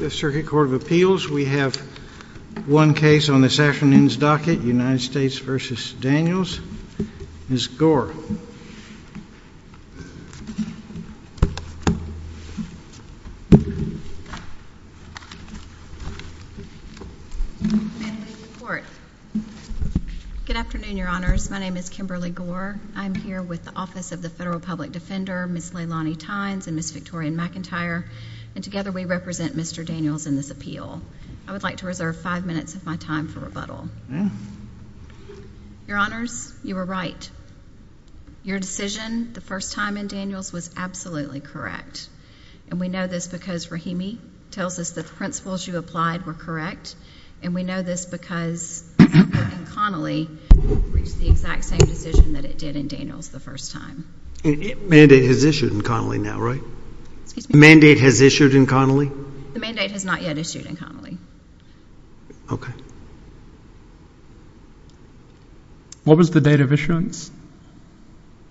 Fifth Circuit Court of Appeals. We have one case on this afternoon's docket, United States v. Daniels. Ms. Gore. Good afternoon, Your Honors. My name is Kimberly Gore. I'm here with the Office of the Federal Public Defender, Ms. Leilani Tynes and Ms. Victoria McIntyre. And together, we represent Mr. Daniels in this appeal. I would like to reserve five minutes of my time for rebuttal. Your Honors, you were right. Your decision the first time in Daniels was absolutely correct. And we know this because Rahimi tells us that the principles you applied were correct. And we know this because Connolly reached the exact same decision that it did in Daniels the first time. Mandate has issued in Connolly now, right? Excuse me? Mandate has issued in Connolly? The mandate has not yet issued in Connolly. Okay. What was the date of issuance?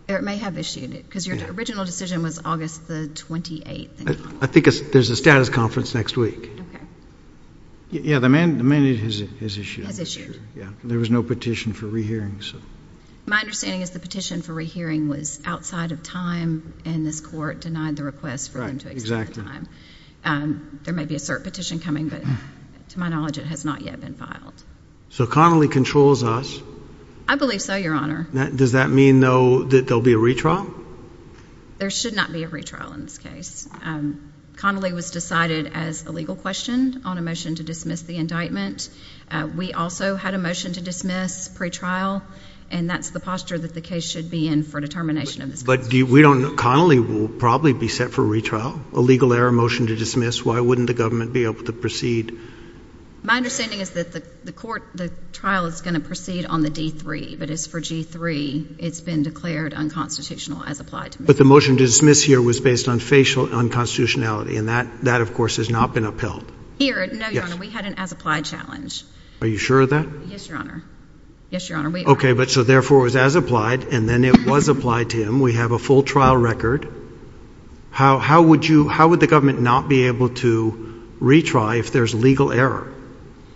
It may have issued it because your original decision was August the 28th in Connolly. I think there's a status conference next week. Okay. Yeah, the mandate has issued. Has issued. Yeah, there was no petition for rehearing, so. My understanding is the petition for rehearing was outside of time, and this court denied the request for them to accept the time. There may be a cert petition coming, but to my knowledge, it has not yet been filed. So Connolly controls us. I believe so, Your Honor. Does that mean, though, that there will be a retrial? There should not be a retrial in this case. Connolly was decided as a legal question on a motion to dismiss the indictment. We also had a motion to dismiss pretrial, and that's the posture that the case should be in for determination of this constitution. But we don't know. Connolly will probably be set for retrial, a legal error motion to dismiss. Why wouldn't the government be able to proceed? My understanding is that the trial is going to proceed on the D-3, but as for G-3, it's been declared unconstitutional as applied to me. But the motion to dismiss here was based on facial unconstitutionality, and that, of course, has not been upheld. No, Your Honor. We had an as-applied challenge. Are you sure of that? Yes, Your Honor. Yes, Your Honor, we are. Okay, but so therefore it was as-applied, and then it was applied to him. We have a full trial record. How would the government not be able to retry if there's legal error?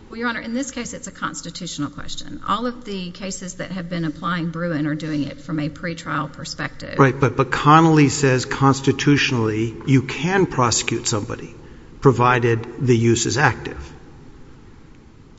Well, Your Honor, in this case, it's a constitutional question. All of the cases that have been applying Bruin are doing it from a pretrial perspective. Right, but Connolly says constitutionally you can prosecute somebody provided the use is active.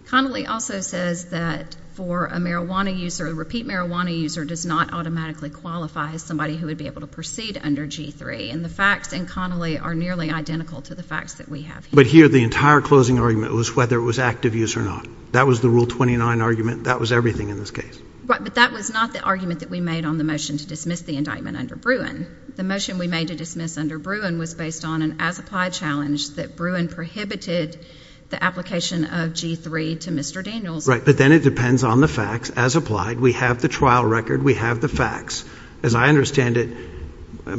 Connolly also says that for a marijuana user, a repeat marijuana user does not automatically qualify as somebody who would be able to proceed under G-3, and the facts in Connolly are nearly identical to the facts that we have here. But here the entire closing argument was whether it was active use or not. That was the Rule 29 argument. That was everything in this case. Right, but that was not the argument that we made on the motion to dismiss the indictment under Bruin. The motion we made to dismiss under Bruin was based on an as-applied challenge that Bruin prohibited the application of G-3 to Mr. Daniels. Right, but then it depends on the facts as applied. We have the trial record. We have the facts. As I understand it,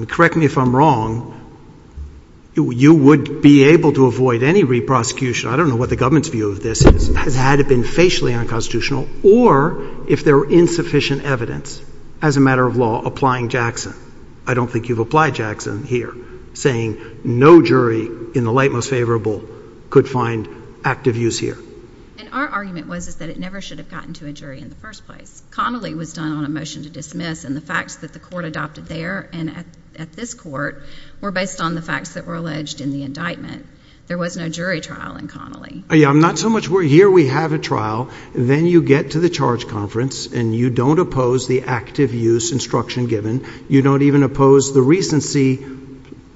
correct me if I'm wrong, you would be able to avoid any re-prosecution. I don't know what the government's view of this is. This has had to have been facially unconstitutional or if there were insufficient evidence as a matter of law applying Jackson. I don't think you've applied Jackson here saying no jury in the light most favorable could find active use here. And our argument was that it never should have gotten to a jury in the first place. Connolly was done on a motion to dismiss, and the facts that the court adopted there and at this court were based on the facts that were alleged in the indictment. There was no jury trial in Connolly. I'm not so much worried. Here we have a trial. Then you get to the charge conference, and you don't oppose the active use instruction given. You don't even oppose the recency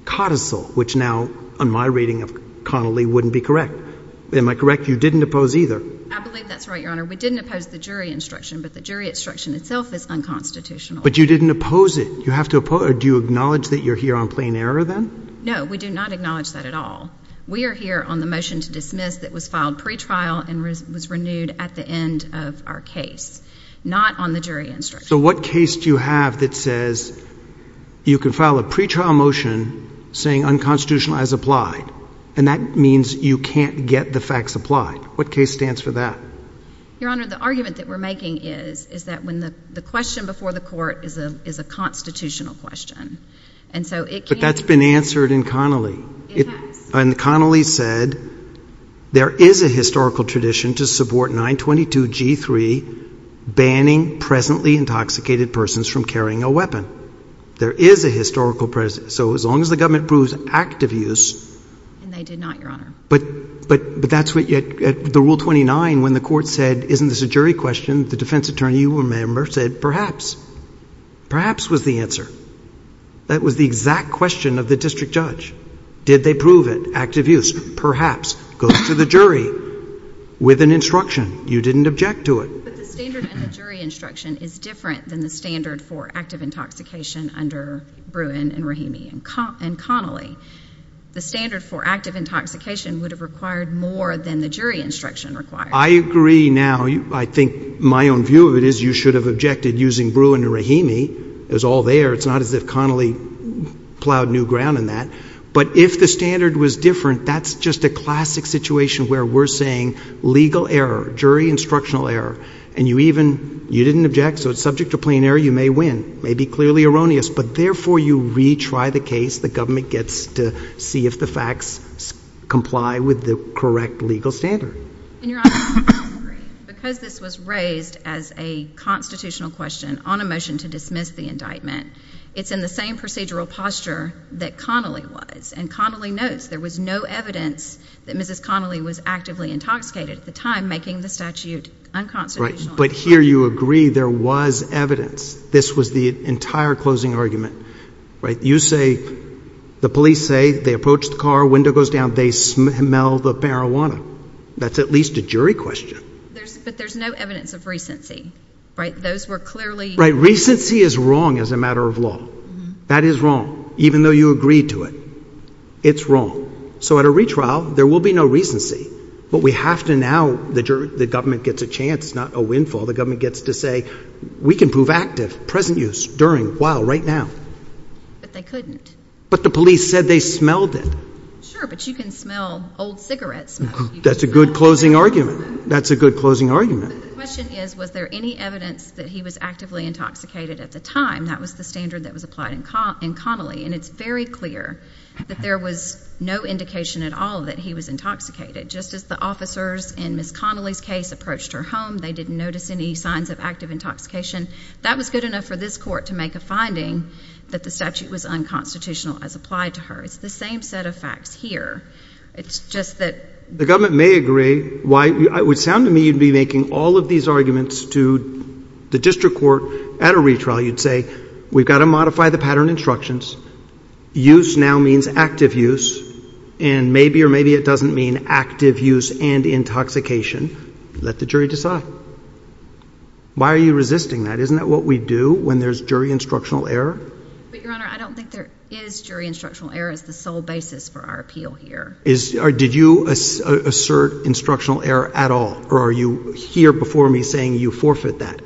codicil, which now on my reading of Connolly wouldn't be correct. Am I correct? You didn't oppose either. I believe that's right, Your Honor. We didn't oppose the jury instruction, but the jury instruction itself is unconstitutional. But you didn't oppose it. You have to oppose it. Do you acknowledge that you're here on plain error then? No, we do not acknowledge that at all. We are here on the motion to dismiss that was filed pretrial and was renewed at the end of our case, not on the jury instruction. So what case do you have that says you can file a pretrial motion saying unconstitutional as applied, and that means you can't get the facts applied? What case stands for that? Your Honor, the argument that we're making is that the question before the court is a constitutional question. But that's been answered in Connolly. It has. And Connolly said there is a historical tradition to support 922G3, banning presently intoxicated persons from carrying a weapon. There is a historical precedent. So as long as the government approves active use. And they did not, Your Honor. But that's what you had at the Rule 29 when the court said, isn't this a jury question? The defense attorney, you remember, said perhaps. Perhaps was the answer. That was the exact question of the district judge. Did they prove it, active use? Perhaps. Go to the jury with an instruction. You didn't object to it. But the standard in the jury instruction is different than the standard for active intoxication under Bruin and Rahimi and Connolly. The standard for active intoxication would have required more than the jury instruction required. I agree now. I think my own view of it is you should have objected using Bruin and Rahimi. It was all there. It's not as if Connolly plowed new ground in that. But if the standard was different, that's just a classic situation where we're saying legal error, jury instructional error. And you even, you didn't object. So it's subject to plain error. You may win. It may be clearly erroneous. But, therefore, you retry the case. The government gets to see if the facts comply with the correct legal standard. And, Your Honor, I don't agree. Because this was raised as a constitutional question on a motion to dismiss the indictment, it's in the same procedural posture that Connolly was. And Connolly notes there was no evidence that Mrs. Connolly was actively intoxicated at the time, making the statute unconstitutional. But here you agree there was evidence. This was the entire closing argument. You say, the police say, they approach the car, window goes down, they smell the marijuana. That's at least a jury question. But there's no evidence of recency. Right? Those were clearly Right. Recency is wrong as a matter of law. That is wrong, even though you agreed to it. It's wrong. So at a retrial, there will be no recency. But we have to now, the government gets a chance, not a windfall. The government gets to say, we can prove active, present use, during, while, right now. But they couldn't. But the police said they smelled it. Sure, but you can smell old cigarettes. That's a good closing argument. That's a good closing argument. But the question is, was there any evidence that he was actively intoxicated at the time? That was the standard that was applied in Connolly. And it's very clear that there was no indication at all that he was intoxicated. Just as the officers in Mrs. Connolly's case approached her home, they didn't notice any signs of active intoxication. That was good enough for this court to make a finding that the statute was unconstitutional as applied to her. It's the same set of facts here. It's just that the government may agree. It would sound to me you'd be making all of these arguments to the district court at a retrial. You'd say, we've got to modify the pattern instructions. Use now means active use. And maybe or maybe it doesn't mean active use and intoxication. Let the jury decide. Why are you resisting that? Isn't that what we do when there's jury instructional error? But, Your Honor, I don't think there is jury instructional error as the sole basis for our appeal here. Did you assert instructional error at all, or are you here before me saying you forfeit that?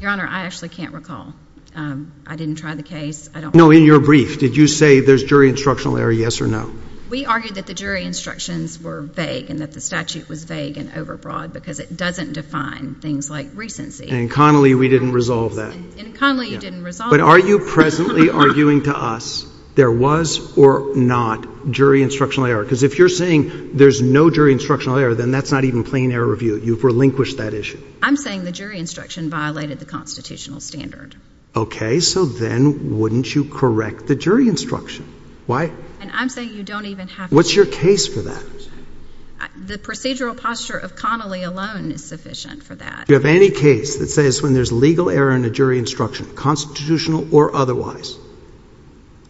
Your Honor, I actually can't recall. I didn't try the case. No, in your brief, did you say there's jury instructional error, yes or no? We argued that the jury instructions were vague and that the statute was vague and overbroad because it doesn't define things like recency. In Connolly, we didn't resolve that. In Connolly, you didn't resolve that. But are you presently arguing to us there was or not jury instructional error? Because if you're saying there's no jury instructional error, then that's not even plain error review. You've relinquished that issue. I'm saying the jury instruction violated the constitutional standard. Okay, so then wouldn't you correct the jury instruction? Why? And I'm saying you don't even have to. What's your case for that? The procedural posture of Connolly alone is sufficient for that. Do you have any case that says when there's legal error in a jury instruction, constitutional or otherwise,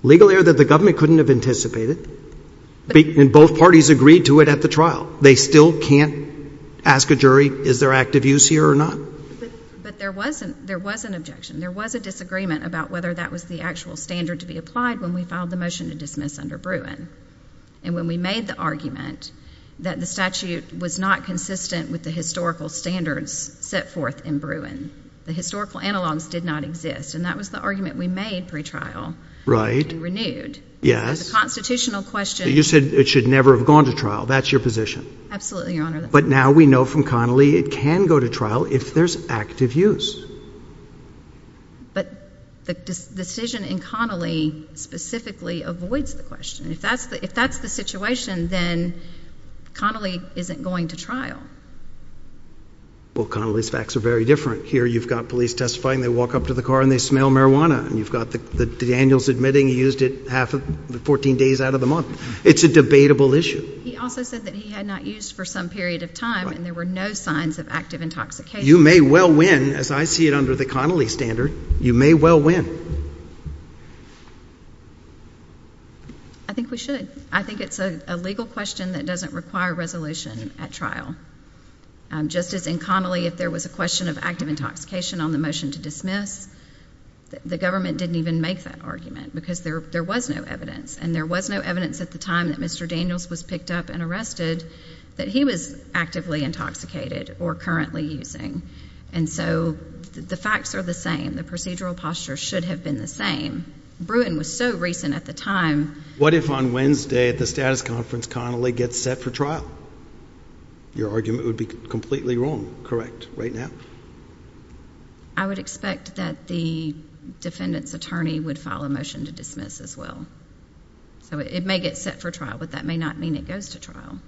legal error that the government couldn't have anticipated and both parties agreed to it at the trial, they still can't ask a jury is there active use here or not? But there was an objection. There was a disagreement about whether that was the actual standard to be applied when we filed the motion to dismiss under Bruin. And when we made the argument that the statute was not consistent with the historical standards set forth in Bruin, the historical analogs did not exist. And that was the argument we made pretrial. And renewed. Yes. The constitutional question. You said it should never have gone to trial. That's your position. Absolutely, Your Honor. But now we know from Connolly it can go to trial if there's active use. But the decision in Connolly specifically avoids the question. If that's the situation, then Connolly isn't going to trial. Well, Connolly's facts are very different. Here you've got police testifying. They walk up to the car and they smell marijuana. And you've got the Daniels admitting he used it half of the 14 days out of the month. It's a debatable issue. He also said that he had not used for some period of time and there were no signs of active intoxication. You may well win, as I see it under the Connolly standard. You may well win. I think we should. I think it's a legal question that doesn't require resolution at trial. Just as in Connolly if there was a question of active intoxication on the motion to dismiss, the government didn't even make that argument because there was no evidence. And there was no evidence at the time that Mr. Daniels was picked up and arrested that he was actively intoxicated or currently using. And so the facts are the same. The procedural posture should have been the same. Bruin was so recent at the time. What if on Wednesday at the status conference Connolly gets set for trial? Your argument would be completely wrong, correct, right now. I would expect that the defendant's attorney would file a motion to dismiss as well. So it may get set for trial, but that may not mean it goes to trial.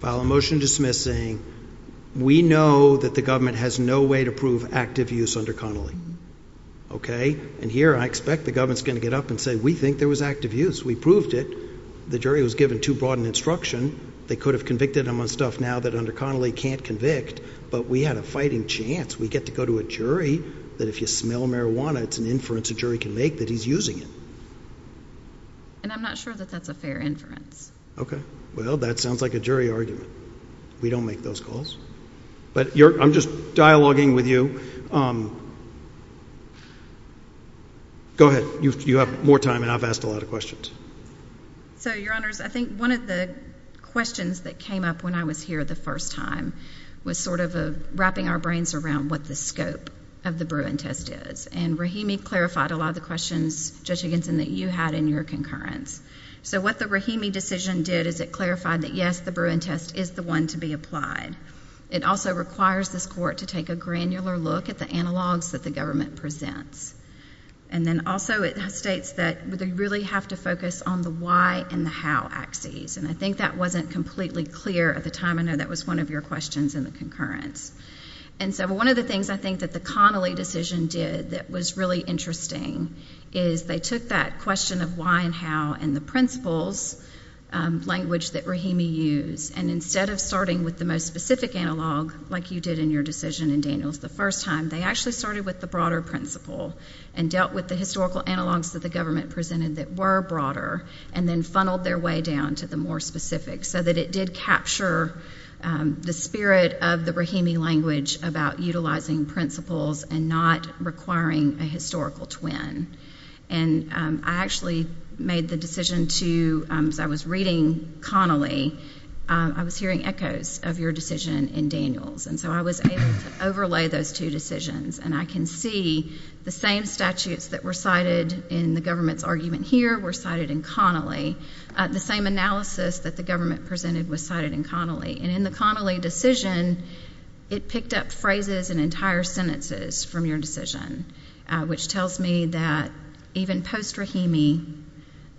File a motion dismissing. We know that the government has no way to prove active use under Connolly. And here I expect the government is going to get up and say we think there was active use. We proved it. The jury was given too broad an instruction. They could have convicted him on stuff now that under Connolly can't convict, but we had a fighting chance. We get to go to a jury that if you smell marijuana, it's an inference a jury can make that he's using it. And I'm not sure that that's a fair inference. Okay. Well, that sounds like a jury argument. We don't make those calls. But I'm just dialoguing with you. Go ahead. You have more time, and I've asked a lot of questions. So, Your Honors, I think one of the questions that came up when I was here the first time was sort of wrapping our brains around what the scope of the Bruin test is. And Rahimi clarified a lot of the questions, Judge Higginson, that you had in your concurrence. So what the Rahimi decision did is it clarified that, yes, the Bruin test is the one to be applied. It also requires this court to take a granular look at the analogs that the government presents. And then also it states that they really have to focus on the why and the how axes. And I think that wasn't completely clear at the time. I know that was one of your questions in the concurrence. And so one of the things I think that the Connolly decision did that was really interesting is they took that question of why and how and the principles language that Rahimi used, and instead of starting with the most specific analog like you did in your decision in Daniels the first time, they actually started with the broader principle and dealt with the historical analogs that the government presented that were broader and then funneled their way down to the more specific so that it did capture the spirit of the Rahimi language about utilizing principles and not requiring a historical twin. And I actually made the decision to, as I was reading Connolly, I was hearing echoes of your decision in Daniels. And so I was able to overlay those two decisions, and I can see the same statutes that were cited in the government's argument here were cited in Connolly. The same analysis that the government presented was cited in Connolly. And in the Connolly decision, it picked up phrases and entire sentences from your decision, which tells me that even post-Rahimi,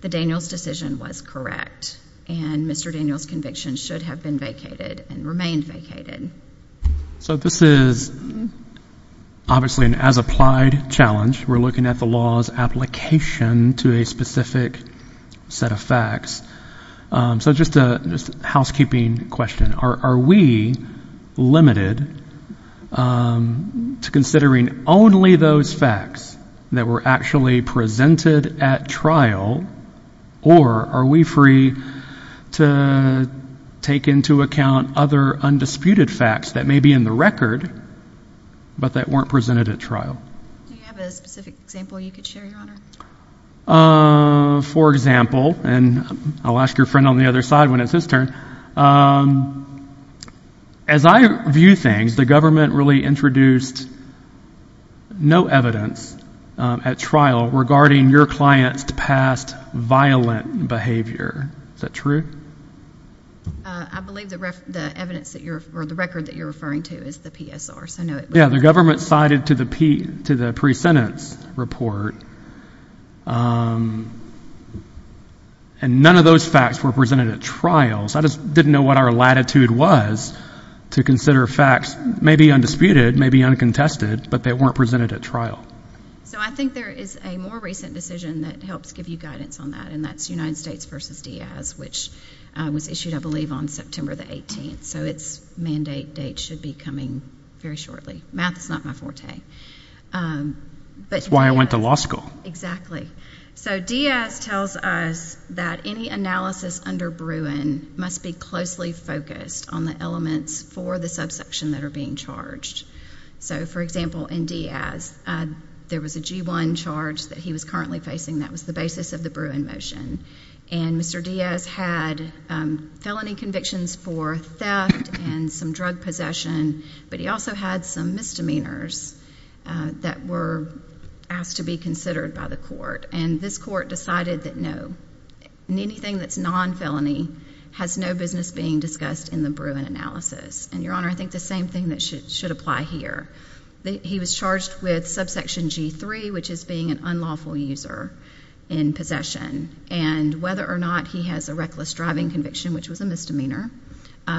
the Daniels decision was correct, and Mr. Daniels' conviction should have been vacated and remained vacated. So this is obviously an as-applied challenge. We're looking at the law's application to a specific set of facts. So just a housekeeping question. Are we limited to considering only those facts that were actually presented at trial, or are we free to take into account other undisputed facts that may be in the record but that weren't presented at trial? Do you have a specific example you could share, Your Honor? For example, and I'll ask your friend on the other side when it's his turn. As I view things, the government really introduced no evidence at trial regarding your client's past violent behavior. Is that true? I believe the record that you're referring to is the PSR. Yeah, the government cited to the pre-sentence report, and none of those facts were presented at trial. So I just didn't know what our latitude was to consider facts maybe undisputed, maybe uncontested, but they weren't presented at trial. So I think there is a more recent decision that helps give you guidance on that, and that's United States v. Diaz, which was issued, I believe, on September the 18th. So its mandate date should be coming very shortly. Math is not my forte. That's why I went to law school. Exactly. So Diaz tells us that any analysis under Bruin must be closely focused on the elements for the subsection that are being charged. So, for example, in Diaz, there was a G-1 charge that he was currently facing. That was the basis of the Bruin motion. And Mr. Diaz had felony convictions for theft and some drug possession, but he also had some misdemeanors that were asked to be considered by the court, and this court decided that no, anything that's non-felony has no business being discussed in the Bruin analysis. And, Your Honor, I think the same thing should apply here. He was charged with subsection G-3, which is being an unlawful user in possession, and whether or not he has a reckless driving conviction, which was a misdemeanor,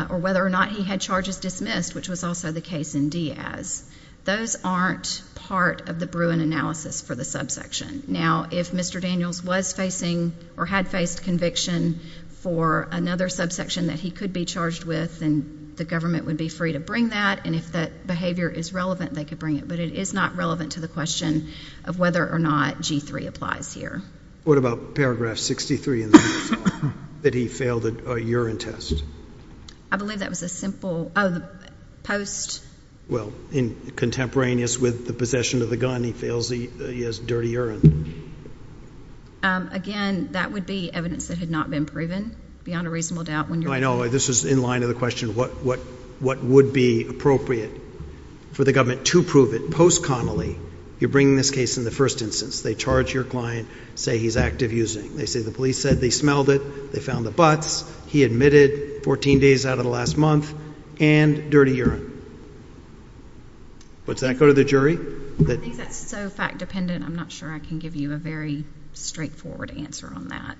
or whether or not he had charges dismissed, which was also the case in Diaz, those aren't part of the Bruin analysis for the subsection. Now, if Mr. Daniels was facing or had faced conviction for another subsection that he could be charged with, then the government would be free to bring that, and if that behavior is relevant, they could bring it. But it is not relevant to the question of whether or not G-3 applies here. What about paragraph 63 that he failed a urine test? I believe that was a simple post. Well, contemporaneous with the possession of the gun, he has dirty urine. Again, that would be evidence that had not been proven, beyond a reasonable doubt. I know. This is in line with the question of what would be appropriate for the government to prove it post-connolly. You're bringing this case in the first instance. They charge your client, say he's active using. They say the police said they smelled it, they found the butts, he admitted 14 days out of the last month, and dirty urine. But does that go to the jury? I think that's so fact-dependent, I'm not sure I can give you a very straightforward answer on that.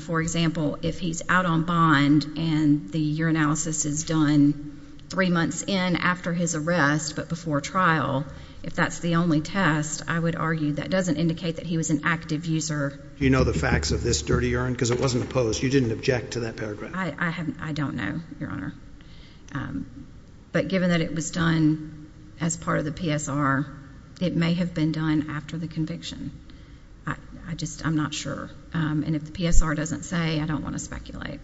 For example, if he's out on bond and the urinalysis is done three months in after his arrest but before trial, if that's the only test, I would argue that doesn't indicate that he was an active user. Do you know the facts of this dirty urine? Because it wasn't a post. You didn't object to that paragraph. I don't know, Your Honor. But given that it was done as part of the PSR, it may have been done after the conviction. I'm not sure. And if the PSR doesn't say, I don't want to speculate.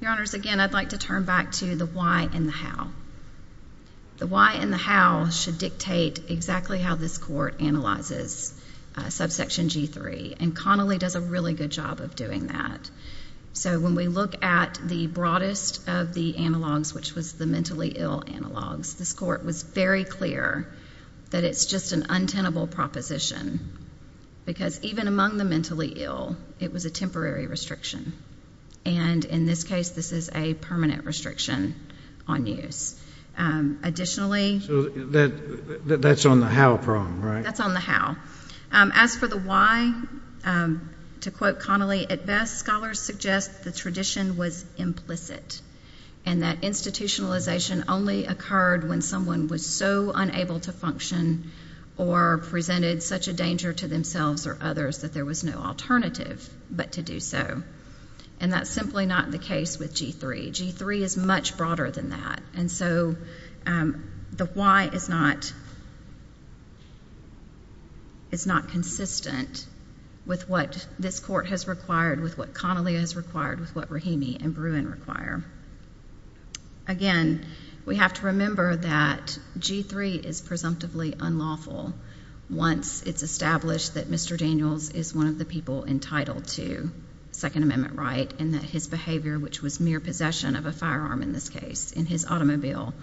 Your Honors, again, I'd like to turn back to the why and the how. The why and the how should dictate exactly how this court analyzes subsection G3, and Connolly does a really good job of doing that. So when we look at the broadest of the analogs, which was the mentally ill analogs, this court was very clear that it's just an untenable proposition because even among the mentally ill, it was a temporary restriction. And in this case, this is a permanent restriction on use. Additionally, So that's on the how problem, right? That's on the how. As for the why, to quote Connolly, at best, scholars suggest the tradition was implicit and that institutionalization only occurred when someone was so unable to function or presented such a danger to themselves or others that there was no alternative but to do so. And that's simply not the case with G3. G3 is much broader than that. And so the why is not consistent with what this court has required, with what Connolly has required, with what Rahimi and Bruin require. Again, we have to remember that G3 is presumptively unlawful once it's established that Mr. Daniels is one of the people entitled to Second Amendment right and that his behavior, which was mere possession of a firearm in this case, in his automobile,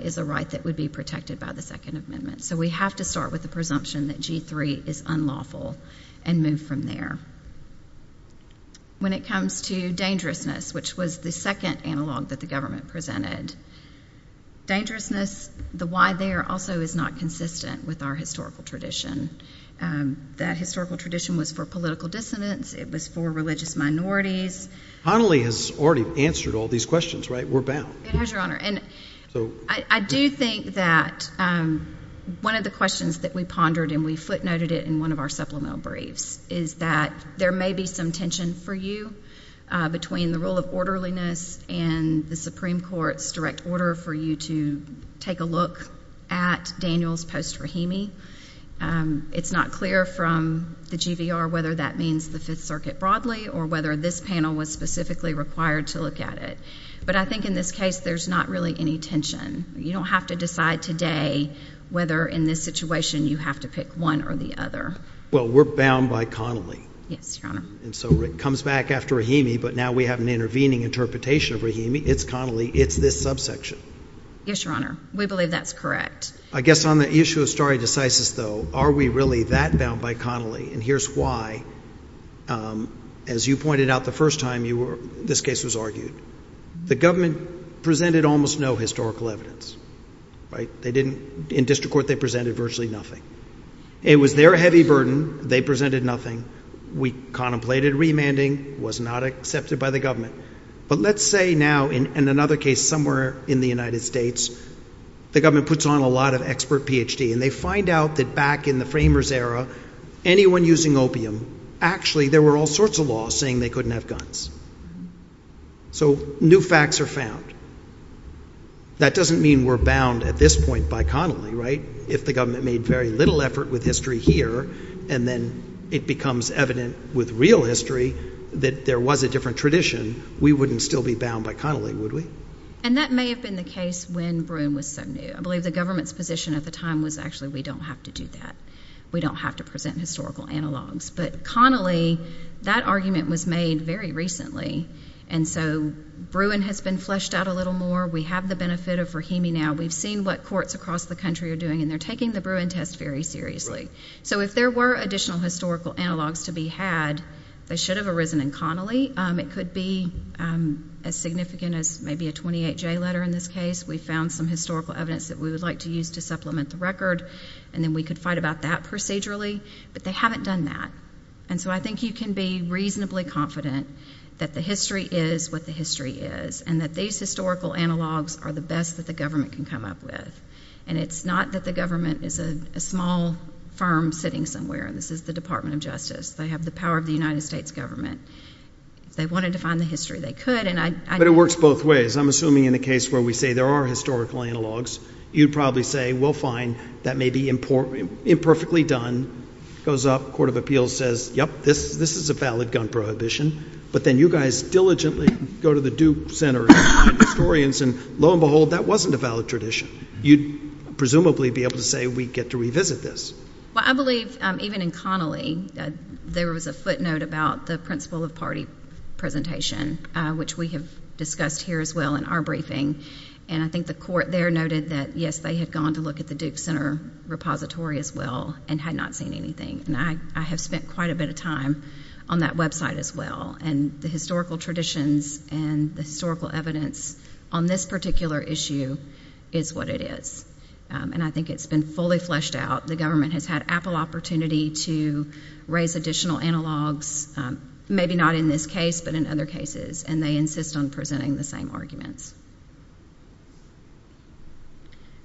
is a right that would be protected by the Second Amendment. So we have to start with the presumption that G3 is unlawful and move from there. When it comes to dangerousness, which was the second analog that the government presented, dangerousness, the why there also is not consistent with our historical tradition. That historical tradition was for political dissonance. It was for religious minorities. Connolly has already answered all these questions, right? We're bound. It has, Your Honor. I do think that one of the questions that we pondered and we footnoted it in one of our supplemental briefs is that there may be some tension for you between the rule of orderliness and the Supreme Court's direct order for you to take a look at Daniels post-Rahimi. It's not clear from the GVR whether that means the Fifth Circuit broadly or whether this panel was specifically required to look at it. But I think in this case there's not really any tension. You don't have to decide today whether in this situation you have to pick one or the other. Well, we're bound by Connolly. Yes, Your Honor. And so it comes back after Rahimi, but now we have an intervening interpretation of Rahimi. It's Connolly. It's this subsection. Yes, Your Honor. We believe that's correct. I guess on the issue of stare decisis, though, are we really that bound by Connolly? And here's why. As you pointed out the first time this case was argued, the government presented almost no historical evidence, right? In district court they presented virtually nothing. It was their heavy burden. They presented nothing. We contemplated remanding. It was not accepted by the government. But let's say now in another case somewhere in the United States the government puts on a lot of expert Ph.D., and they find out that back in the framers' era anyone using opium, actually there were all sorts of laws saying they couldn't have guns. So new facts are found. That doesn't mean we're bound at this point by Connolly, right, if the government made very little effort with history here and then it becomes evident with real history that there was a different tradition, we wouldn't still be bound by Connolly, would we? And that may have been the case when Bruin was so new. I believe the government's position at the time was actually we don't have to do that. We don't have to present historical analogs. But Connolly, that argument was made very recently, and so Bruin has been fleshed out a little more. We have the benefit of Rahimi now. We've seen what courts across the country are doing, and they're taking the Bruin test very seriously. So if there were additional historical analogs to be had, they should have arisen in Connolly. It could be as significant as maybe a 28-J letter in this case. We found some historical evidence that we would like to use to supplement the record, and then we could fight about that procedurally. But they haven't done that. And so I think you can be reasonably confident that the history is what the history is and that these historical analogs are the best that the government can come up with. And it's not that the government is a small firm sitting somewhere, and this is the Department of Justice. They have the power of the United States government. If they wanted to find the history, they could. But it works both ways. I'm assuming in a case where we say there are historical analogs, you'd probably say, well, fine, that may be imperfectly done. It goes up. The Court of Appeals says, yep, this is a valid gun prohibition. But then you guys diligently go to the Duke Center and find historians, and lo and behold, that wasn't a valid tradition. You'd presumably be able to say we get to revisit this. Well, I believe even in Connolly there was a footnote about the principle of party presentation, which we have discussed here as well in our briefing. And I think the Court there noted that, yes, they had gone to look at the Duke Center repository as well and had not seen anything. And I have spent quite a bit of time on that website as well. And the historical traditions and the historical evidence on this particular issue is what it is. And I think it's been fully fleshed out. The government has had ample opportunity to raise additional analogs, maybe not in this case but in other cases, and they insist on presenting the same arguments.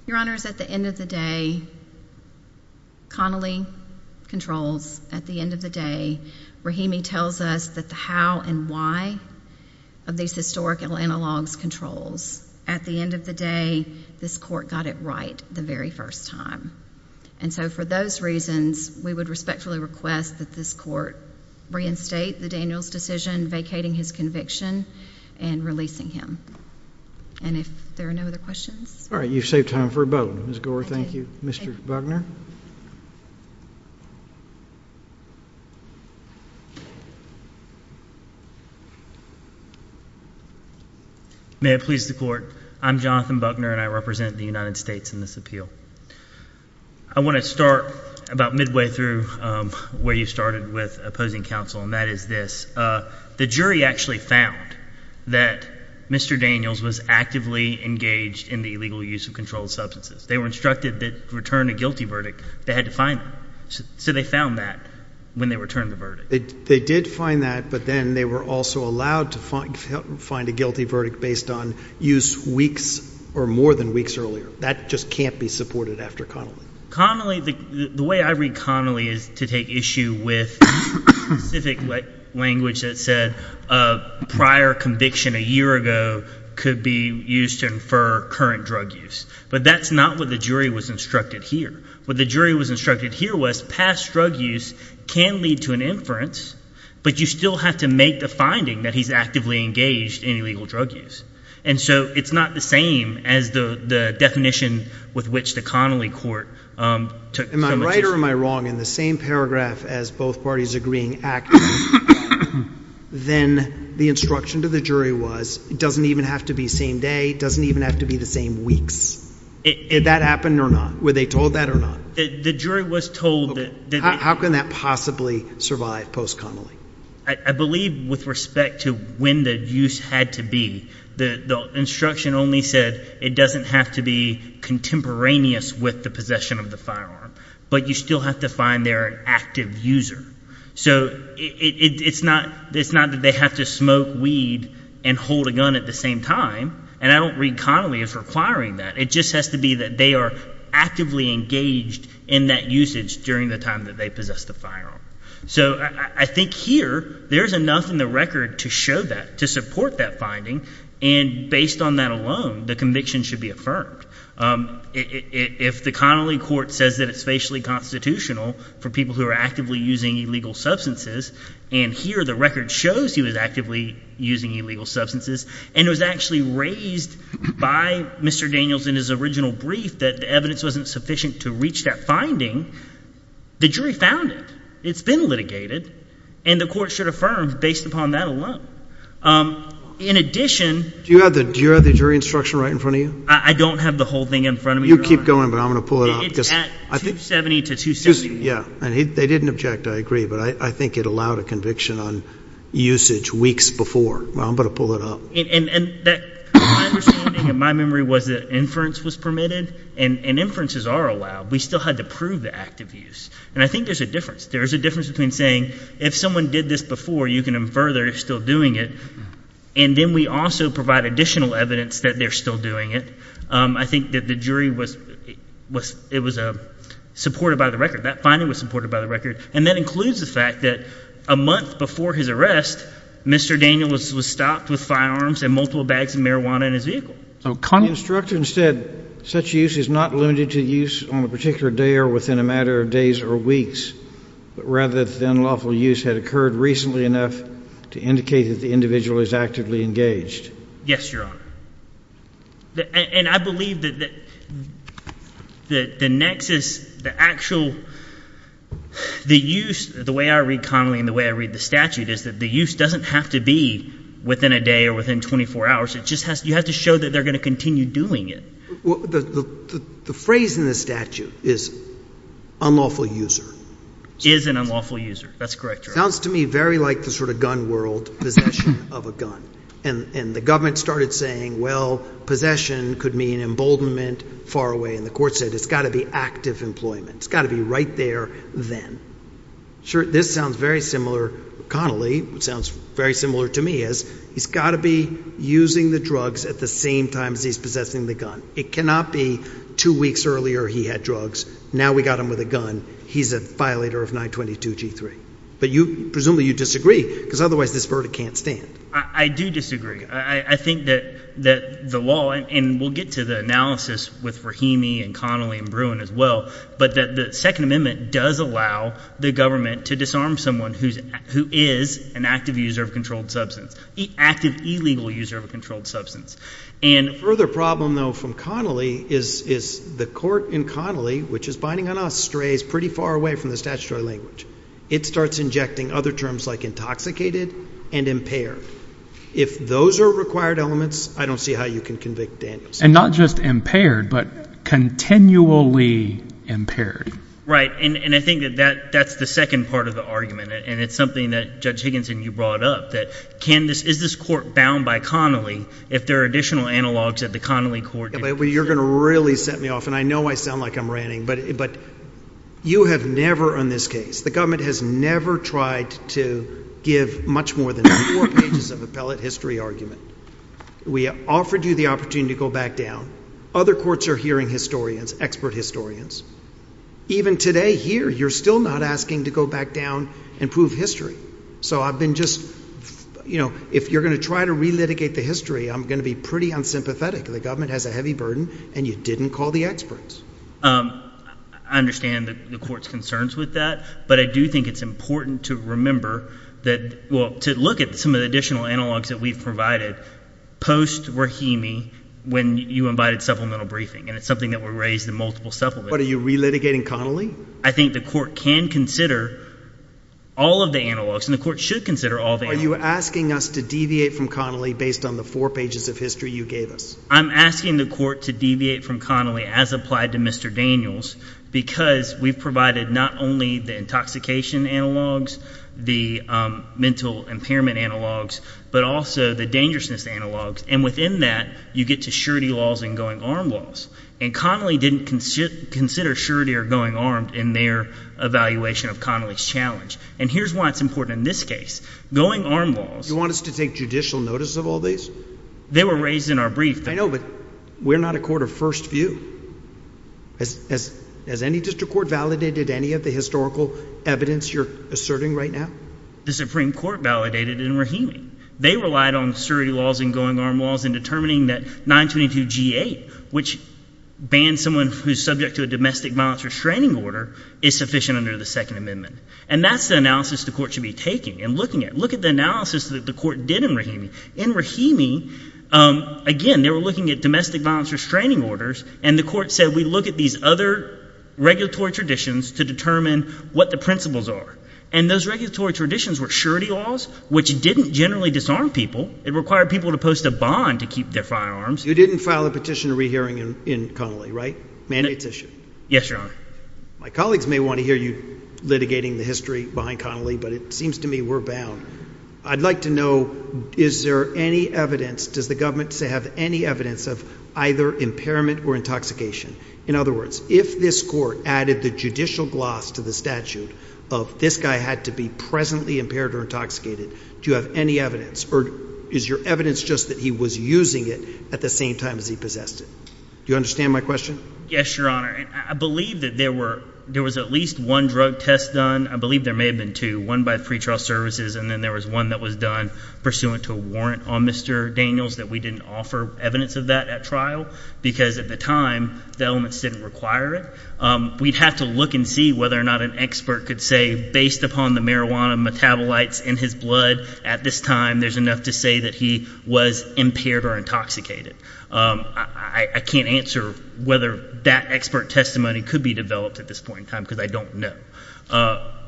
Your Honors, at the end of the day, Connolly controls. At the end of the day, Rahimi tells us that the how and why of these historical analogs controls. At the end of the day, this court got it right the very first time. And so for those reasons, we would respectfully request that this court reinstate the Daniels decision, vacating his conviction and releasing him. And if there are no other questions. All right. You've saved time for a vote. Ms. Gore, thank you. Mr. Buckner. May it please the Court. I'm Jonathan Buckner, and I represent the United States in this appeal. I want to start about midway through where you started with opposing counsel, and that is this. The jury actually found that Mr. Daniels was actively engaged in the illegal use of controlled substances. They were instructed that to return a guilty verdict, they had to find it. So they found that when they returned the verdict. They did find that, but then they were also allowed to find a guilty verdict based on use weeks or more than weeks earlier. That just can't be supported after Connolly. Connolly, the way I read Connolly is to take issue with specific language that said prior conviction a year ago could be used to infer current drug use. But that's not what the jury was instructed here. What the jury was instructed here was past drug use can lead to an inference, but you still have to make the finding that he's actively engaged in illegal drug use. And so it's not the same as the definition with which the Connolly court took so much issue. Am I right or am I wrong? In the same paragraph as both parties agreeing actively, then the instruction to the jury was it doesn't even have to be same day. It doesn't even have to be the same weeks. Did that happen or not? Were they told that or not? The jury was told that. How can that possibly survive post-Connolly? I believe with respect to when the use had to be, the instruction only said it doesn't have to be contemporaneous with the possession of the firearm, but you still have to find their active user. So it's not that they have to smoke weed and hold a gun at the same time, and I don't read Connolly as requiring that. It just has to be that they are actively engaged in that usage during the time that they possess the firearm. So I think here there is enough in the record to show that, to support that finding, and based on that alone, the conviction should be affirmed. If the Connolly court says that it's facially constitutional for people who are actively using illegal substances, and here the record shows he was actively using illegal substances and it was actually raised by Mr. Daniels in his original brief that the evidence wasn't sufficient to reach that finding, the jury found it. It's been litigated, and the court should affirm based upon that alone. In addition— Do you have the jury instruction right in front of you? I don't have the whole thing in front of me, Your Honor. You keep going, but I'm going to pull it up. It's at 270 to 271. Yeah, and they didn't object, I agree, but I think it allowed a conviction on usage weeks before. Well, I'm going to pull it up. And my understanding and my memory was that inference was permitted, and inferences are allowed. We still had to prove the act of use, and I think there's a difference. There's a difference between saying if someone did this before, you can infer they're still doing it, and then we also provide additional evidence that they're still doing it. I think that the jury was—it was supported by the record. That finding was supported by the record, and that includes the fact that a month before his arrest, Mr. Daniels was stopped with firearms and multiple bags of marijuana in his vehicle. The instruction said such use is not limited to use on a particular day or within a matter of days or weeks, but rather that the unlawful use had occurred recently enough to indicate that the individual is actively engaged. Yes, Your Honor. And I believe that the nexus, the actual—the use, the way I read Connolly and the way I read the statute, is that the use doesn't have to be within a day or within 24 hours. It just has—you have to show that they're going to continue doing it. The phrase in the statute is unlawful user. Is an unlawful user. That's correct, Your Honor. It sounds to me very like the sort of gun world, possession of a gun. And the government started saying, well, possession could mean emboldenment far away, and the court said it's got to be active employment. It's got to be right there then. Sure. This sounds very similar. Connolly sounds very similar to me as he's got to be using the drugs at the same time as he's possessing the gun. It cannot be two weeks earlier he had drugs. Now we got him with a gun. He's a violator of 922G3. But you—presumably you disagree because otherwise this verdict can't stand. I do disagree. I think that the law—and we'll get to the analysis with Rahimi and Connolly and Bruin as well— but that the Second Amendment does allow the government to disarm someone who is an active user of a controlled substance, active illegal user of a controlled substance. And further problem though from Connolly is the court in Connolly, which is binding on us, strays pretty far away from the statutory language. It starts injecting other terms like intoxicated and impaired. If those are required elements, I don't see how you can convict Daniels. And not just impaired but continually impaired. Right, and I think that that's the second part of the argument, and it's something that Judge Higginson, you brought up, that can this— is this court bound by Connolly if there are additional analogs that the Connolly court— You're going to really set me off, and I know I sound like I'm ranting, but you have never on this case— the government has never tried to give much more than four pages of appellate history argument. We offered you the opportunity to go back down. Other courts are hearing historians, expert historians. Even today here, you're still not asking to go back down and prove history. So I've been just—if you're going to try to relitigate the history, I'm going to be pretty unsympathetic. The government has a heavy burden, and you didn't call the experts. I understand the court's concerns with that, but I do think it's important to remember that— post-Rahimi, when you invited supplemental briefing, and it's something that were raised in multiple supplements— But are you relitigating Connolly? I think the court can consider all of the analogs, and the court should consider all the analogs. Are you asking us to deviate from Connolly based on the four pages of history you gave us? I'm asking the court to deviate from Connolly as applied to Mr. Daniels because we've provided not only the intoxication analogs, the mental impairment analogs, but also the dangerousness analogs. And within that, you get to surety laws and going armed laws. And Connolly didn't consider surety or going armed in their evaluation of Connolly's challenge. And here's why it's important in this case. Going armed laws— You want us to take judicial notice of all these? They were raised in our brief. I know, but we're not a court of first view. Has any district court validated any of the historical evidence you're asserting right now? The Supreme Court validated in Rahimi. They relied on surety laws and going armed laws in determining that 922 G-8, which bans someone who's subject to a domestic violence restraining order, is sufficient under the Second Amendment. And that's the analysis the court should be taking and looking at. Look at the analysis that the court did in Rahimi. In Rahimi, again, they were looking at domestic violence restraining orders, and the court said we look at these other regulatory traditions to determine what the principles are. And those regulatory traditions were surety laws, which didn't generally disarm people. It required people to post a bond to keep their firearms. You didn't file a petition to rehearing in Connolly, right? Mandate's issue? Yes, Your Honor. My colleagues may want to hear you litigating the history behind Connolly, but it seems to me we're bound. I'd like to know is there any evidence, does the government have any evidence of either impairment or intoxication? In other words, if this court added the judicial gloss to the statute of this guy had to be presently impaired or intoxicated, do you have any evidence, or is your evidence just that he was using it at the same time as he possessed it? Do you understand my question? Yes, Your Honor. I believe that there was at least one drug test done. I believe there may have been two, one by pretrial services, and then there was one that was done pursuant to a warrant on Mr. Daniels that we didn't offer evidence of that at trial, because at the time the elements didn't require it. We'd have to look and see whether or not an expert could say, based upon the marijuana metabolites in his blood at this time, there's enough to say that he was impaired or intoxicated. I can't answer whether that expert testimony could be developed at this point in time because I don't know.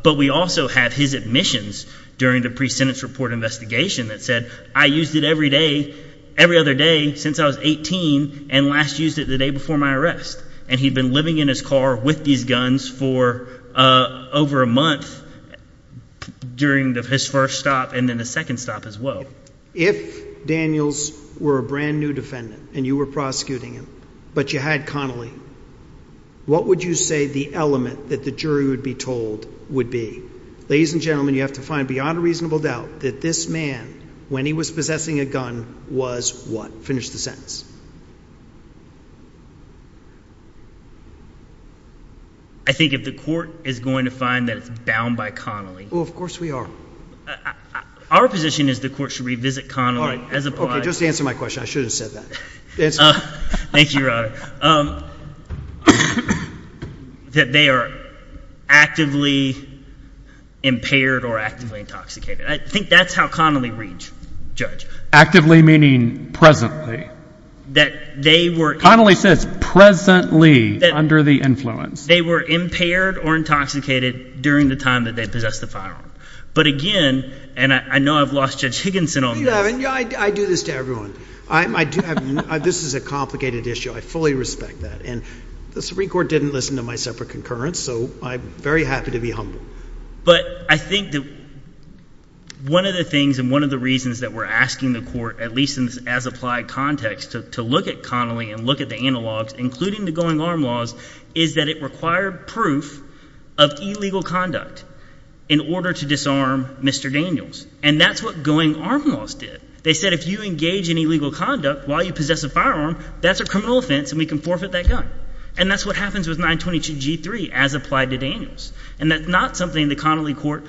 But we also have his admissions during the pre-sentence report investigation that said, I used it every day, every other day since I was 18, and last used it the day before my arrest. And he'd been living in his car with these guns for over a month during his first stop and then the second stop as well. If Daniels were a brand-new defendant and you were prosecuting him, but you had Connolly, what would you say the element that the jury would be told would be? Ladies and gentlemen, you have to find beyond a reasonable doubt that this man, when he was possessing a gun, was what? Finish the sentence. I think if the court is going to find that it's bound by Connolly. Oh, of course we are. Our position is the court should revisit Connolly. All right. Just answer my question. I should have said that. Thank you, Your Honor. That they are actively impaired or actively intoxicated. I think that's how Connolly reads, Judge. Actively meaning presently. That they were. Connolly says presently under the influence. They were impaired or intoxicated during the time that they possessed the firearm. But again, and I know I've lost Judge Higginson on this. I do this to everyone. This is a complicated issue. I fully respect that. And the Supreme Court didn't listen to my separate concurrence, so I'm very happy to be humble. But I think that one of the things and one of the reasons that we're asking the court, at least in this as-applied context, to look at Connolly and look at the analogs, including the going-arm laws, is that it required proof of illegal conduct in order to disarm Mr. Daniels. And that's what going-arm laws did. They said if you engage in illegal conduct while you possess a firearm, that's a criminal offense and we can forfeit that gun. And that's what happens with 922G3 as applied to Daniels. And that's not something the Connolly court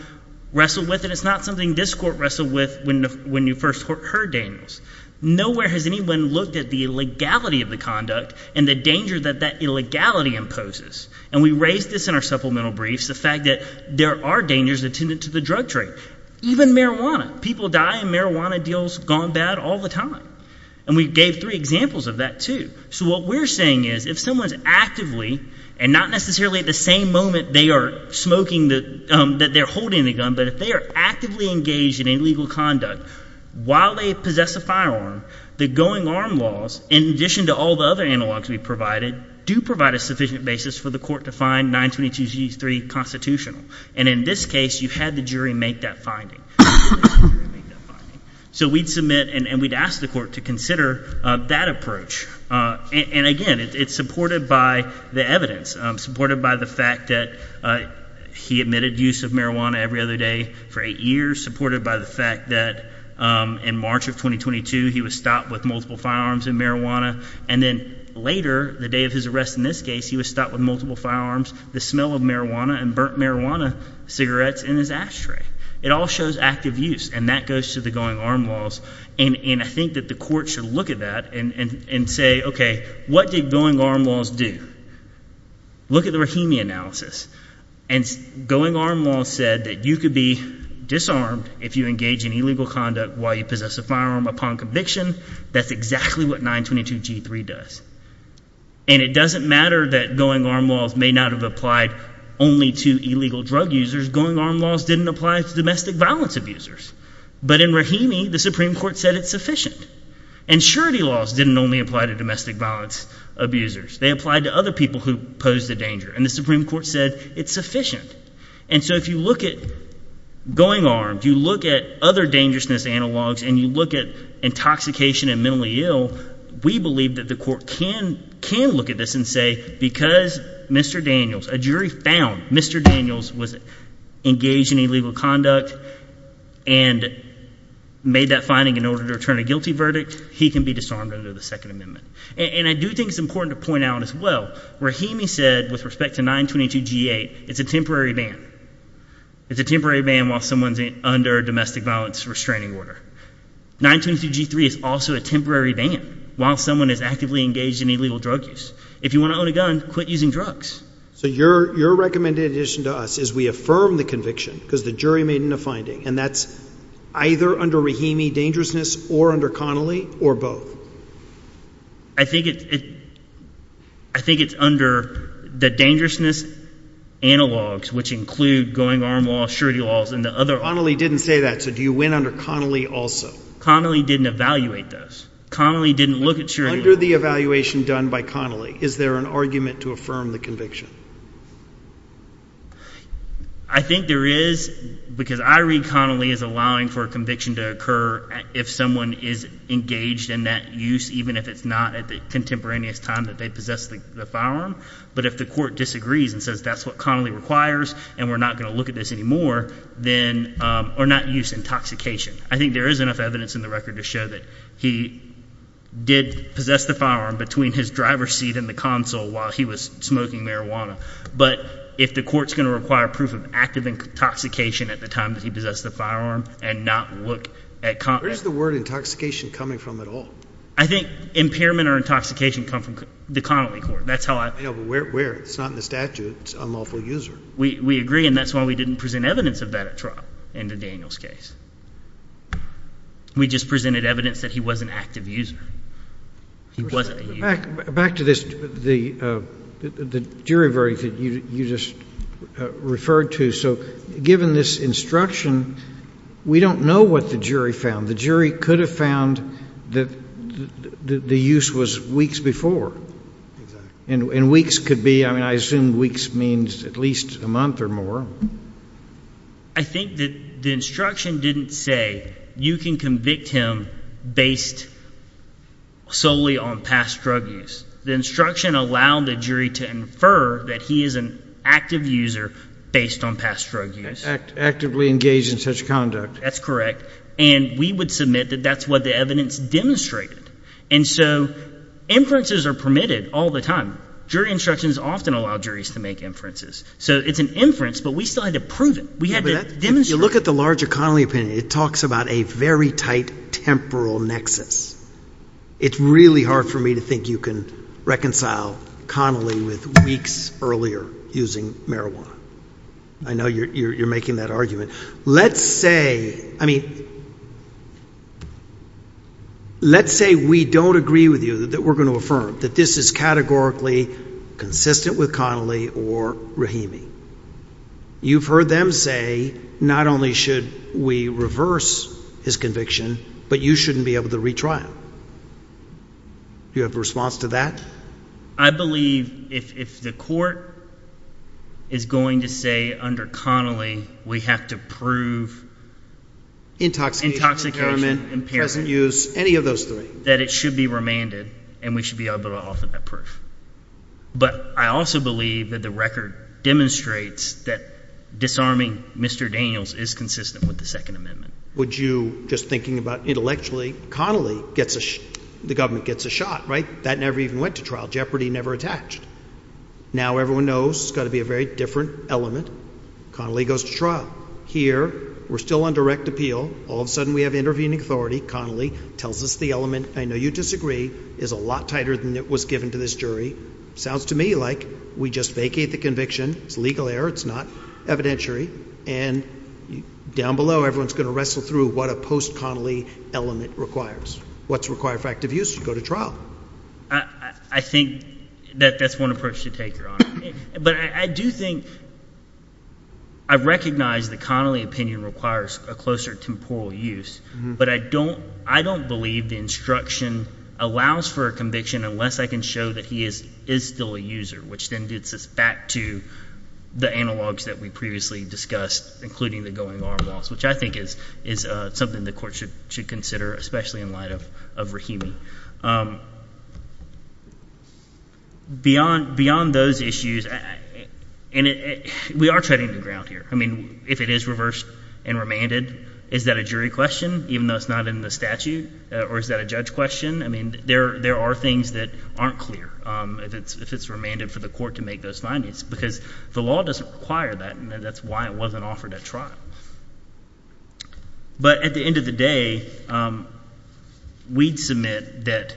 wrestled with, and it's not something this court wrestled with when you first heard Daniels. Nowhere has anyone looked at the legality of the conduct and the danger that that illegality imposes. And we raised this in our supplemental briefs, the fact that there are dangers attendant to the drug trade, even marijuana. People die and marijuana deals gone bad all the time. And we gave three examples of that too. So what we're saying is if someone is actively, and not necessarily at the same moment they are smoking that they're holding the gun, but if they are actively engaged in illegal conduct while they possess a firearm, the going-arm laws, in addition to all the other analogs we provided, do provide a sufficient basis for the court to find 922G3 constitutional. And in this case, you had the jury make that finding. So we'd submit and we'd ask the court to consider that approach. And again, it's supported by the evidence, supported by the fact that he admitted use of marijuana every other day for eight years, supported by the fact that in March of 2022 he was stopped with multiple firearms and marijuana. And then later, the day of his arrest in this case, he was stopped with multiple firearms, the smell of marijuana and burnt marijuana cigarettes in his ashtray. It all shows active use, and that goes to the going-arm laws. And I think that the court should look at that and say, okay, what did going-arm laws do? Look at the Rahimi analysis. And going-arm laws said that you could be disarmed if you engage in illegal conduct while you possess a firearm upon conviction. That's exactly what 922G3 does. And it doesn't matter that going-arm laws may not have applied only to illegal drug users. Going-arm laws didn't apply to domestic violence abusers. But in Rahimi, the Supreme Court said it's sufficient. And surety laws didn't only apply to domestic violence abusers. They applied to other people who posed a danger, and the Supreme Court said it's sufficient. And so if you look at going-arm, you look at other dangerousness analogs, and you look at intoxication and mentally ill, we believe that the court can look at this and say because Mr. Daniels, a jury found Mr. Daniels was engaged in illegal conduct and made that finding in order to return a guilty verdict, he can be disarmed under the Second Amendment. And I do think it's important to point out as well, Rahimi said with respect to 922G8, it's a temporary ban. It's a temporary ban while someone is under domestic violence restraining order. 922G3 is also a temporary ban while someone is actively engaged in illegal drug use. If you want to own a gun, quit using drugs. So your recommended addition to us is we affirm the conviction because the jury made a finding, and that's either under Rahimi dangerousness or under Connolly or both. I think it's under the dangerousness analogs, which include going-arm laws, surety laws, and the other— Connolly didn't say that, so do you win under Connolly also? Connolly didn't evaluate those. Connolly didn't look at surety laws. Under the evaluation done by Connolly, is there an argument to affirm the conviction? I think there is because I read Connolly as allowing for a conviction to occur if someone is engaged in that use, even if it's not at the contemporaneous time that they possess the firearm. But if the court disagrees and says that's what Connolly requires and we're not going to look at this anymore, then—or not use intoxication. I think there is enough evidence in the record to show that he did possess the firearm between his driver's seat and the console while he was smoking marijuana. But if the court is going to require proof of active intoxication at the time that he possessed the firearm and not look at— Where is the word intoxication coming from at all? I think impairment or intoxication come from the Connolly court. That's how I— Yeah, but where? It's not in the statute. It's unlawful user. We agree, and that's why we didn't present evidence of that at trial in the Daniels case. We just presented evidence that he was an active user. He wasn't a user. Back to this, the jury verdict that you just referred to. So given this instruction, we don't know what the jury found. The jury could have found that the use was weeks before. Exactly. And weeks could be—I mean I assume weeks means at least a month or more. I think that the instruction didn't say you can convict him based solely on past drug use. The instruction allowed the jury to infer that he is an active user based on past drug use. Actively engaged in such conduct. That's correct. And we would submit that that's what the evidence demonstrated. And so inferences are permitted all the time. Jury instructions often allow juries to make inferences. So it's an inference, but we still had to prove it. We had to demonstrate it. If you look at the larger Connolly opinion, it talks about a very tight temporal nexus. It's really hard for me to think you can reconcile Connolly with weeks earlier using marijuana. I know you're making that argument. Let's say—I mean let's say we don't agree with you that we're going to affirm that this is categorically consistent with Connolly or Rahimi. You've heard them say not only should we reverse his conviction, but you shouldn't be able to retrial. Do you have a response to that? I believe if the court is going to say under Connolly we have to prove intoxication, impairment, present use, any of those three, that it should be remanded and we should be able to offer that proof. But I also believe that the record demonstrates that disarming Mr. Daniels is consistent with the Second Amendment. Would you, just thinking about intellectually, Connolly gets a—the government gets a shot, right? That never even went to trial. Jeopardy never attached. Now everyone knows it's got to be a very different element. Connolly goes to trial. Here we're still on direct appeal. All of a sudden we have intervening authority. Connolly tells us the element, I know you disagree, is a lot tighter than it was given to this jury. Sounds to me like we just vacate the conviction. It's legal error. It's not evidentiary. And down below everyone is going to wrestle through what a post-Connolly element requires. What's required for active use? You go to trial. I think that that's one approach to take, Your Honor. But I do think – I recognize the Connolly opinion requires a closer temporal use. But I don't believe the instruction allows for a conviction unless I can show that he is still a user, which then gets us back to the analogs that we previously discussed, including the going arm laws, which I think is something the court should consider, especially in light of Rahimi. Beyond those issues – and we are treading the ground here. I mean, if it is reversed and remanded, is that a jury question, even though it's not in the statute? Or is that a judge question? I mean, there are things that aren't clear if it's remanded for the court to make those findings because the law doesn't require that, and that's why it wasn't offered at trial. But at the end of the day, we'd submit that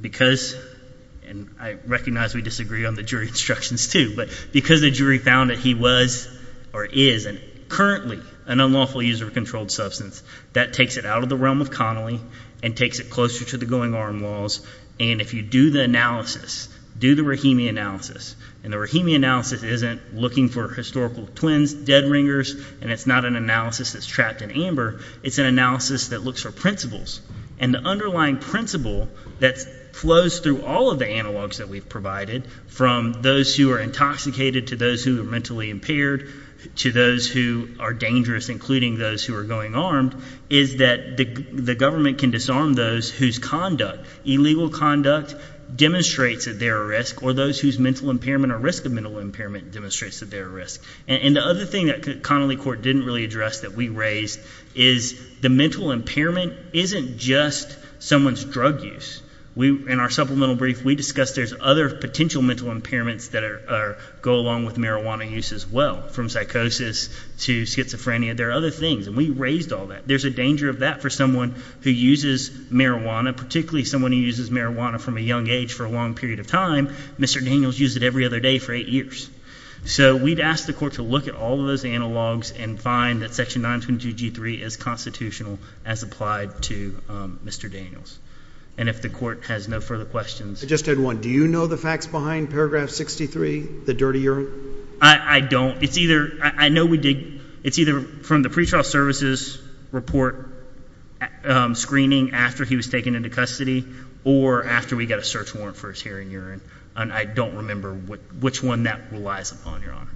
because – and I recognize we disagree on the jury instructions too, but because the jury found that he was or is currently an unlawful user of a controlled substance, that takes it out of the realm of Connolly and takes it closer to the going arm laws. And if you do the analysis, do the Rahimi analysis, and the Rahimi analysis isn't looking for historical twins, dead ringers, and it's not an analysis that's trapped in amber. It's an analysis that looks for principles, and the underlying principle that flows through all of the analogs that we've provided, from those who are intoxicated to those who are mentally impaired to those who are dangerous, including those who are going armed, is that the government can disarm those whose conduct, illegal conduct, demonstrates that they're at risk, or those whose mental impairment or risk of mental impairment demonstrates that they're at risk. And the other thing that Connolly Court didn't really address that we raised is the mental impairment isn't just someone's drug use. In our supplemental brief, we discussed there's other potential mental impairments that go along with marijuana use as well, from psychosis to schizophrenia. There are other things, and we raised all that. There's a danger of that for someone who uses marijuana, particularly someone who uses marijuana from a young age for a long period of time. Mr. Daniels used it every other day for eight years. So we'd ask the court to look at all of those analogs and find that Section 922G3 is constitutional as applied to Mr. Daniels. And if the court has no further questions. I just had one. Do you know the facts behind Paragraph 63, the dirty urine? I don't. I know we did. It's either from the pretrial services report screening after he was taken into custody or after we got a search warrant for his hair and urine. And I don't remember which one that relies upon, Your Honor.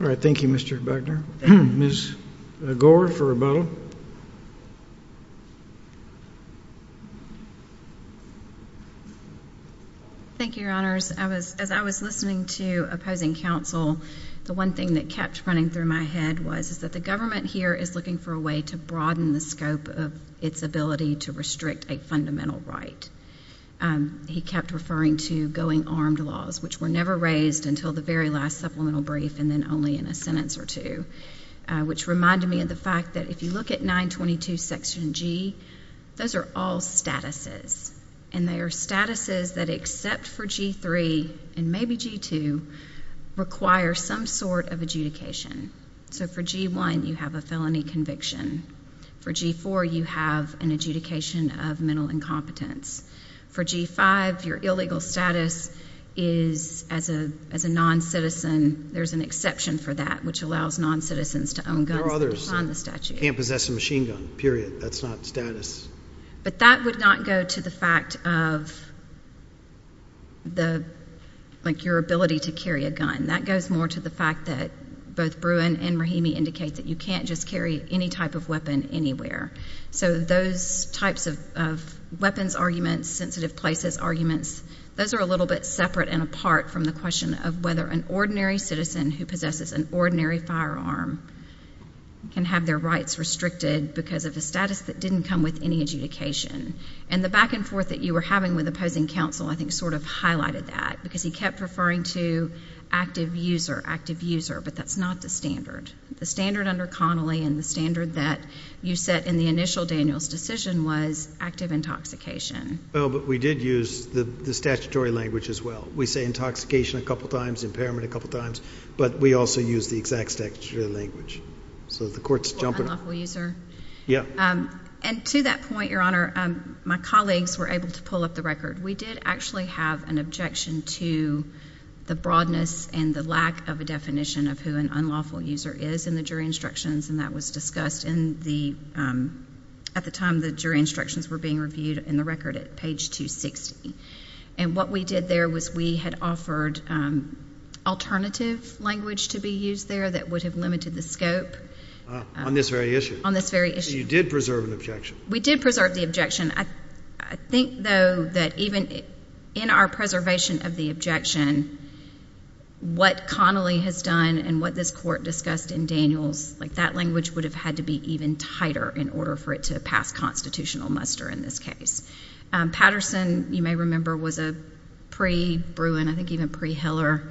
All right. Thank you, Mr. Wagner. Ms. Gore for rebuttal. Thank you, Your Honors. As I was listening to opposing counsel, the one thing that kept running through my head was that the government here is looking for a way to broaden the scope of its ability to restrict a fundamental right. He kept referring to going armed laws, which were never raised until the very last supplemental brief and then only in a sentence or two, which reminded me of the fact that if you look at 922 Section G, those are all statuses. And they are statuses that, except for G-3 and maybe G-2, require some sort of adjudication. So for G-1, you have a felony conviction. For G-4, you have an adjudication of mental incompetence. For G-5, your illegal status is, as a noncitizen, there's an exception for that, which allows noncitizens to own guns. There are others that can't possess a machine gun. Period. That's not status. But that would not go to the fact of your ability to carry a gun. That goes more to the fact that both Bruin and Rahimi indicate that you can't just carry any type of weapon anywhere. So those types of weapons arguments, sensitive places arguments, those are a little bit separate and apart from the question of whether an ordinary citizen who possesses an ordinary firearm can have their rights restricted because of a status that didn't come with any adjudication. And the back and forth that you were having with opposing counsel I think sort of highlighted that because he kept referring to active user, active user, but that's not the standard. The standard under Connolly and the standard that you set in the initial Daniel's decision was active intoxication. Well, but we did use the statutory language as well. We say intoxication a couple times, impairment a couple times, but we also use the exact statutory language. Unlawful user? Yeah. And to that point, Your Honor, my colleagues were able to pull up the record. We did actually have an objection to the broadness and the lack of a definition of who an unlawful user is in the jury instructions, and that was discussed at the time the jury instructions were being reviewed in the record at page 260. And what we did there was we had offered alternative language to be used there that would have limited the scope. On this very issue? On this very issue. So you did preserve an objection? We did preserve the objection. I think, though, that even in our preservation of the objection, what Connolly has done and what this Court discussed in Daniel's, like that language would have had to be even tighter in order for it to pass constitutional muster in this case. Patterson, you may remember, was a pre-Bruin, I think even pre-Hiller,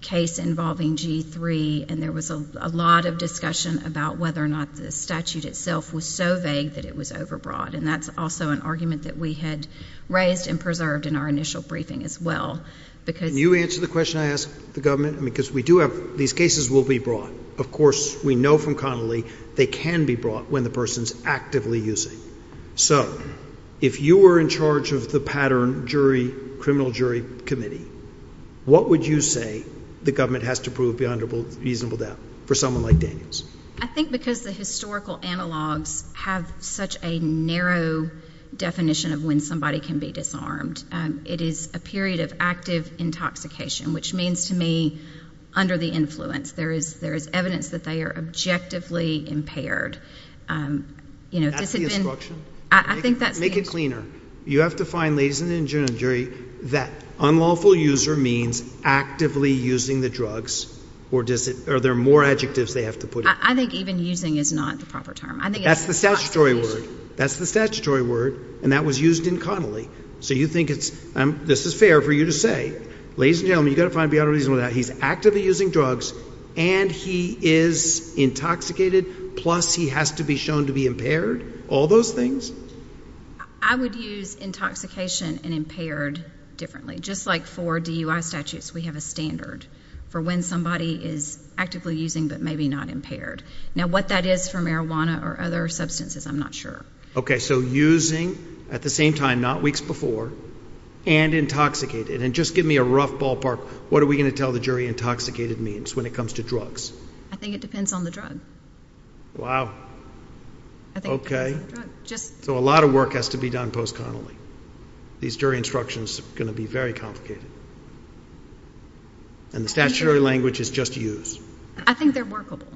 case involving G-3, and there was a lot of discussion about whether or not the statute itself was so vague that it was overbroad, and that's also an argument that we had raised and preserved in our initial briefing as well. Can you answer the question I ask the government? Because we do have these cases will be brought. Of course, we know from Connolly they can be brought when the person is actively using. So if you were in charge of the pattern jury, criminal jury committee, what would you say the government has to prove beyond a reasonable doubt for someone like Daniels? I think because the historical analogs have such a narrow definition of when somebody can be disarmed. It is a period of active intoxication, which means to me under the influence, there is evidence that they are objectively impaired. That's the instruction? I think that's the instruction. Make it cleaner. You have to find, ladies and gentlemen of the jury, that unlawful user means actively using the drugs, or are there more adjectives they have to put in? I think even using is not the proper term. That's the statutory word, and that was used in Connolly. So you think this is fair for you to say, ladies and gentlemen, you've got to find beyond a reasonable doubt, he's actively using drugs and he is intoxicated, plus he has to be shown to be impaired, all those things? I would use intoxication and impaired differently. Just like for DUI statutes, we have a standard for when somebody is actively using but maybe not impaired. Now what that is for marijuana or other substances, I'm not sure. Okay, so using at the same time, not weeks before, and intoxicated. And just give me a rough ballpark, what are we going to tell the jury intoxicated means when it comes to drugs? I think it depends on the drug. Wow. I think it depends on the drug. So a lot of work has to be done post Connolly. These jury instructions are going to be very complicated. And the statutory language is just use. I think they're workable.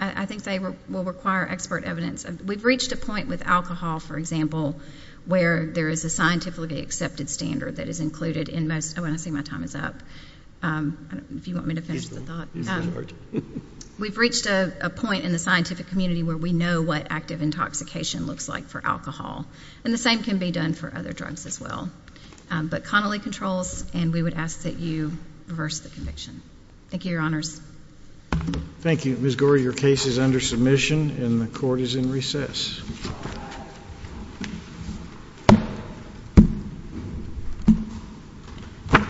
I think they will require expert evidence. We've reached a point with alcohol, for example, where there is a scientifically accepted standard that is included in most. I want to say my time is up. If you want me to finish the thought. We've reached a point in the scientific community where we know what active intoxication looks like for alcohol. And the same can be done for other drugs as well. But Connolly controls and we would ask that you reverse the conviction. Thank you, Your Honors. Thank you. Ms. Gore, your case is under submission and the court is in recess.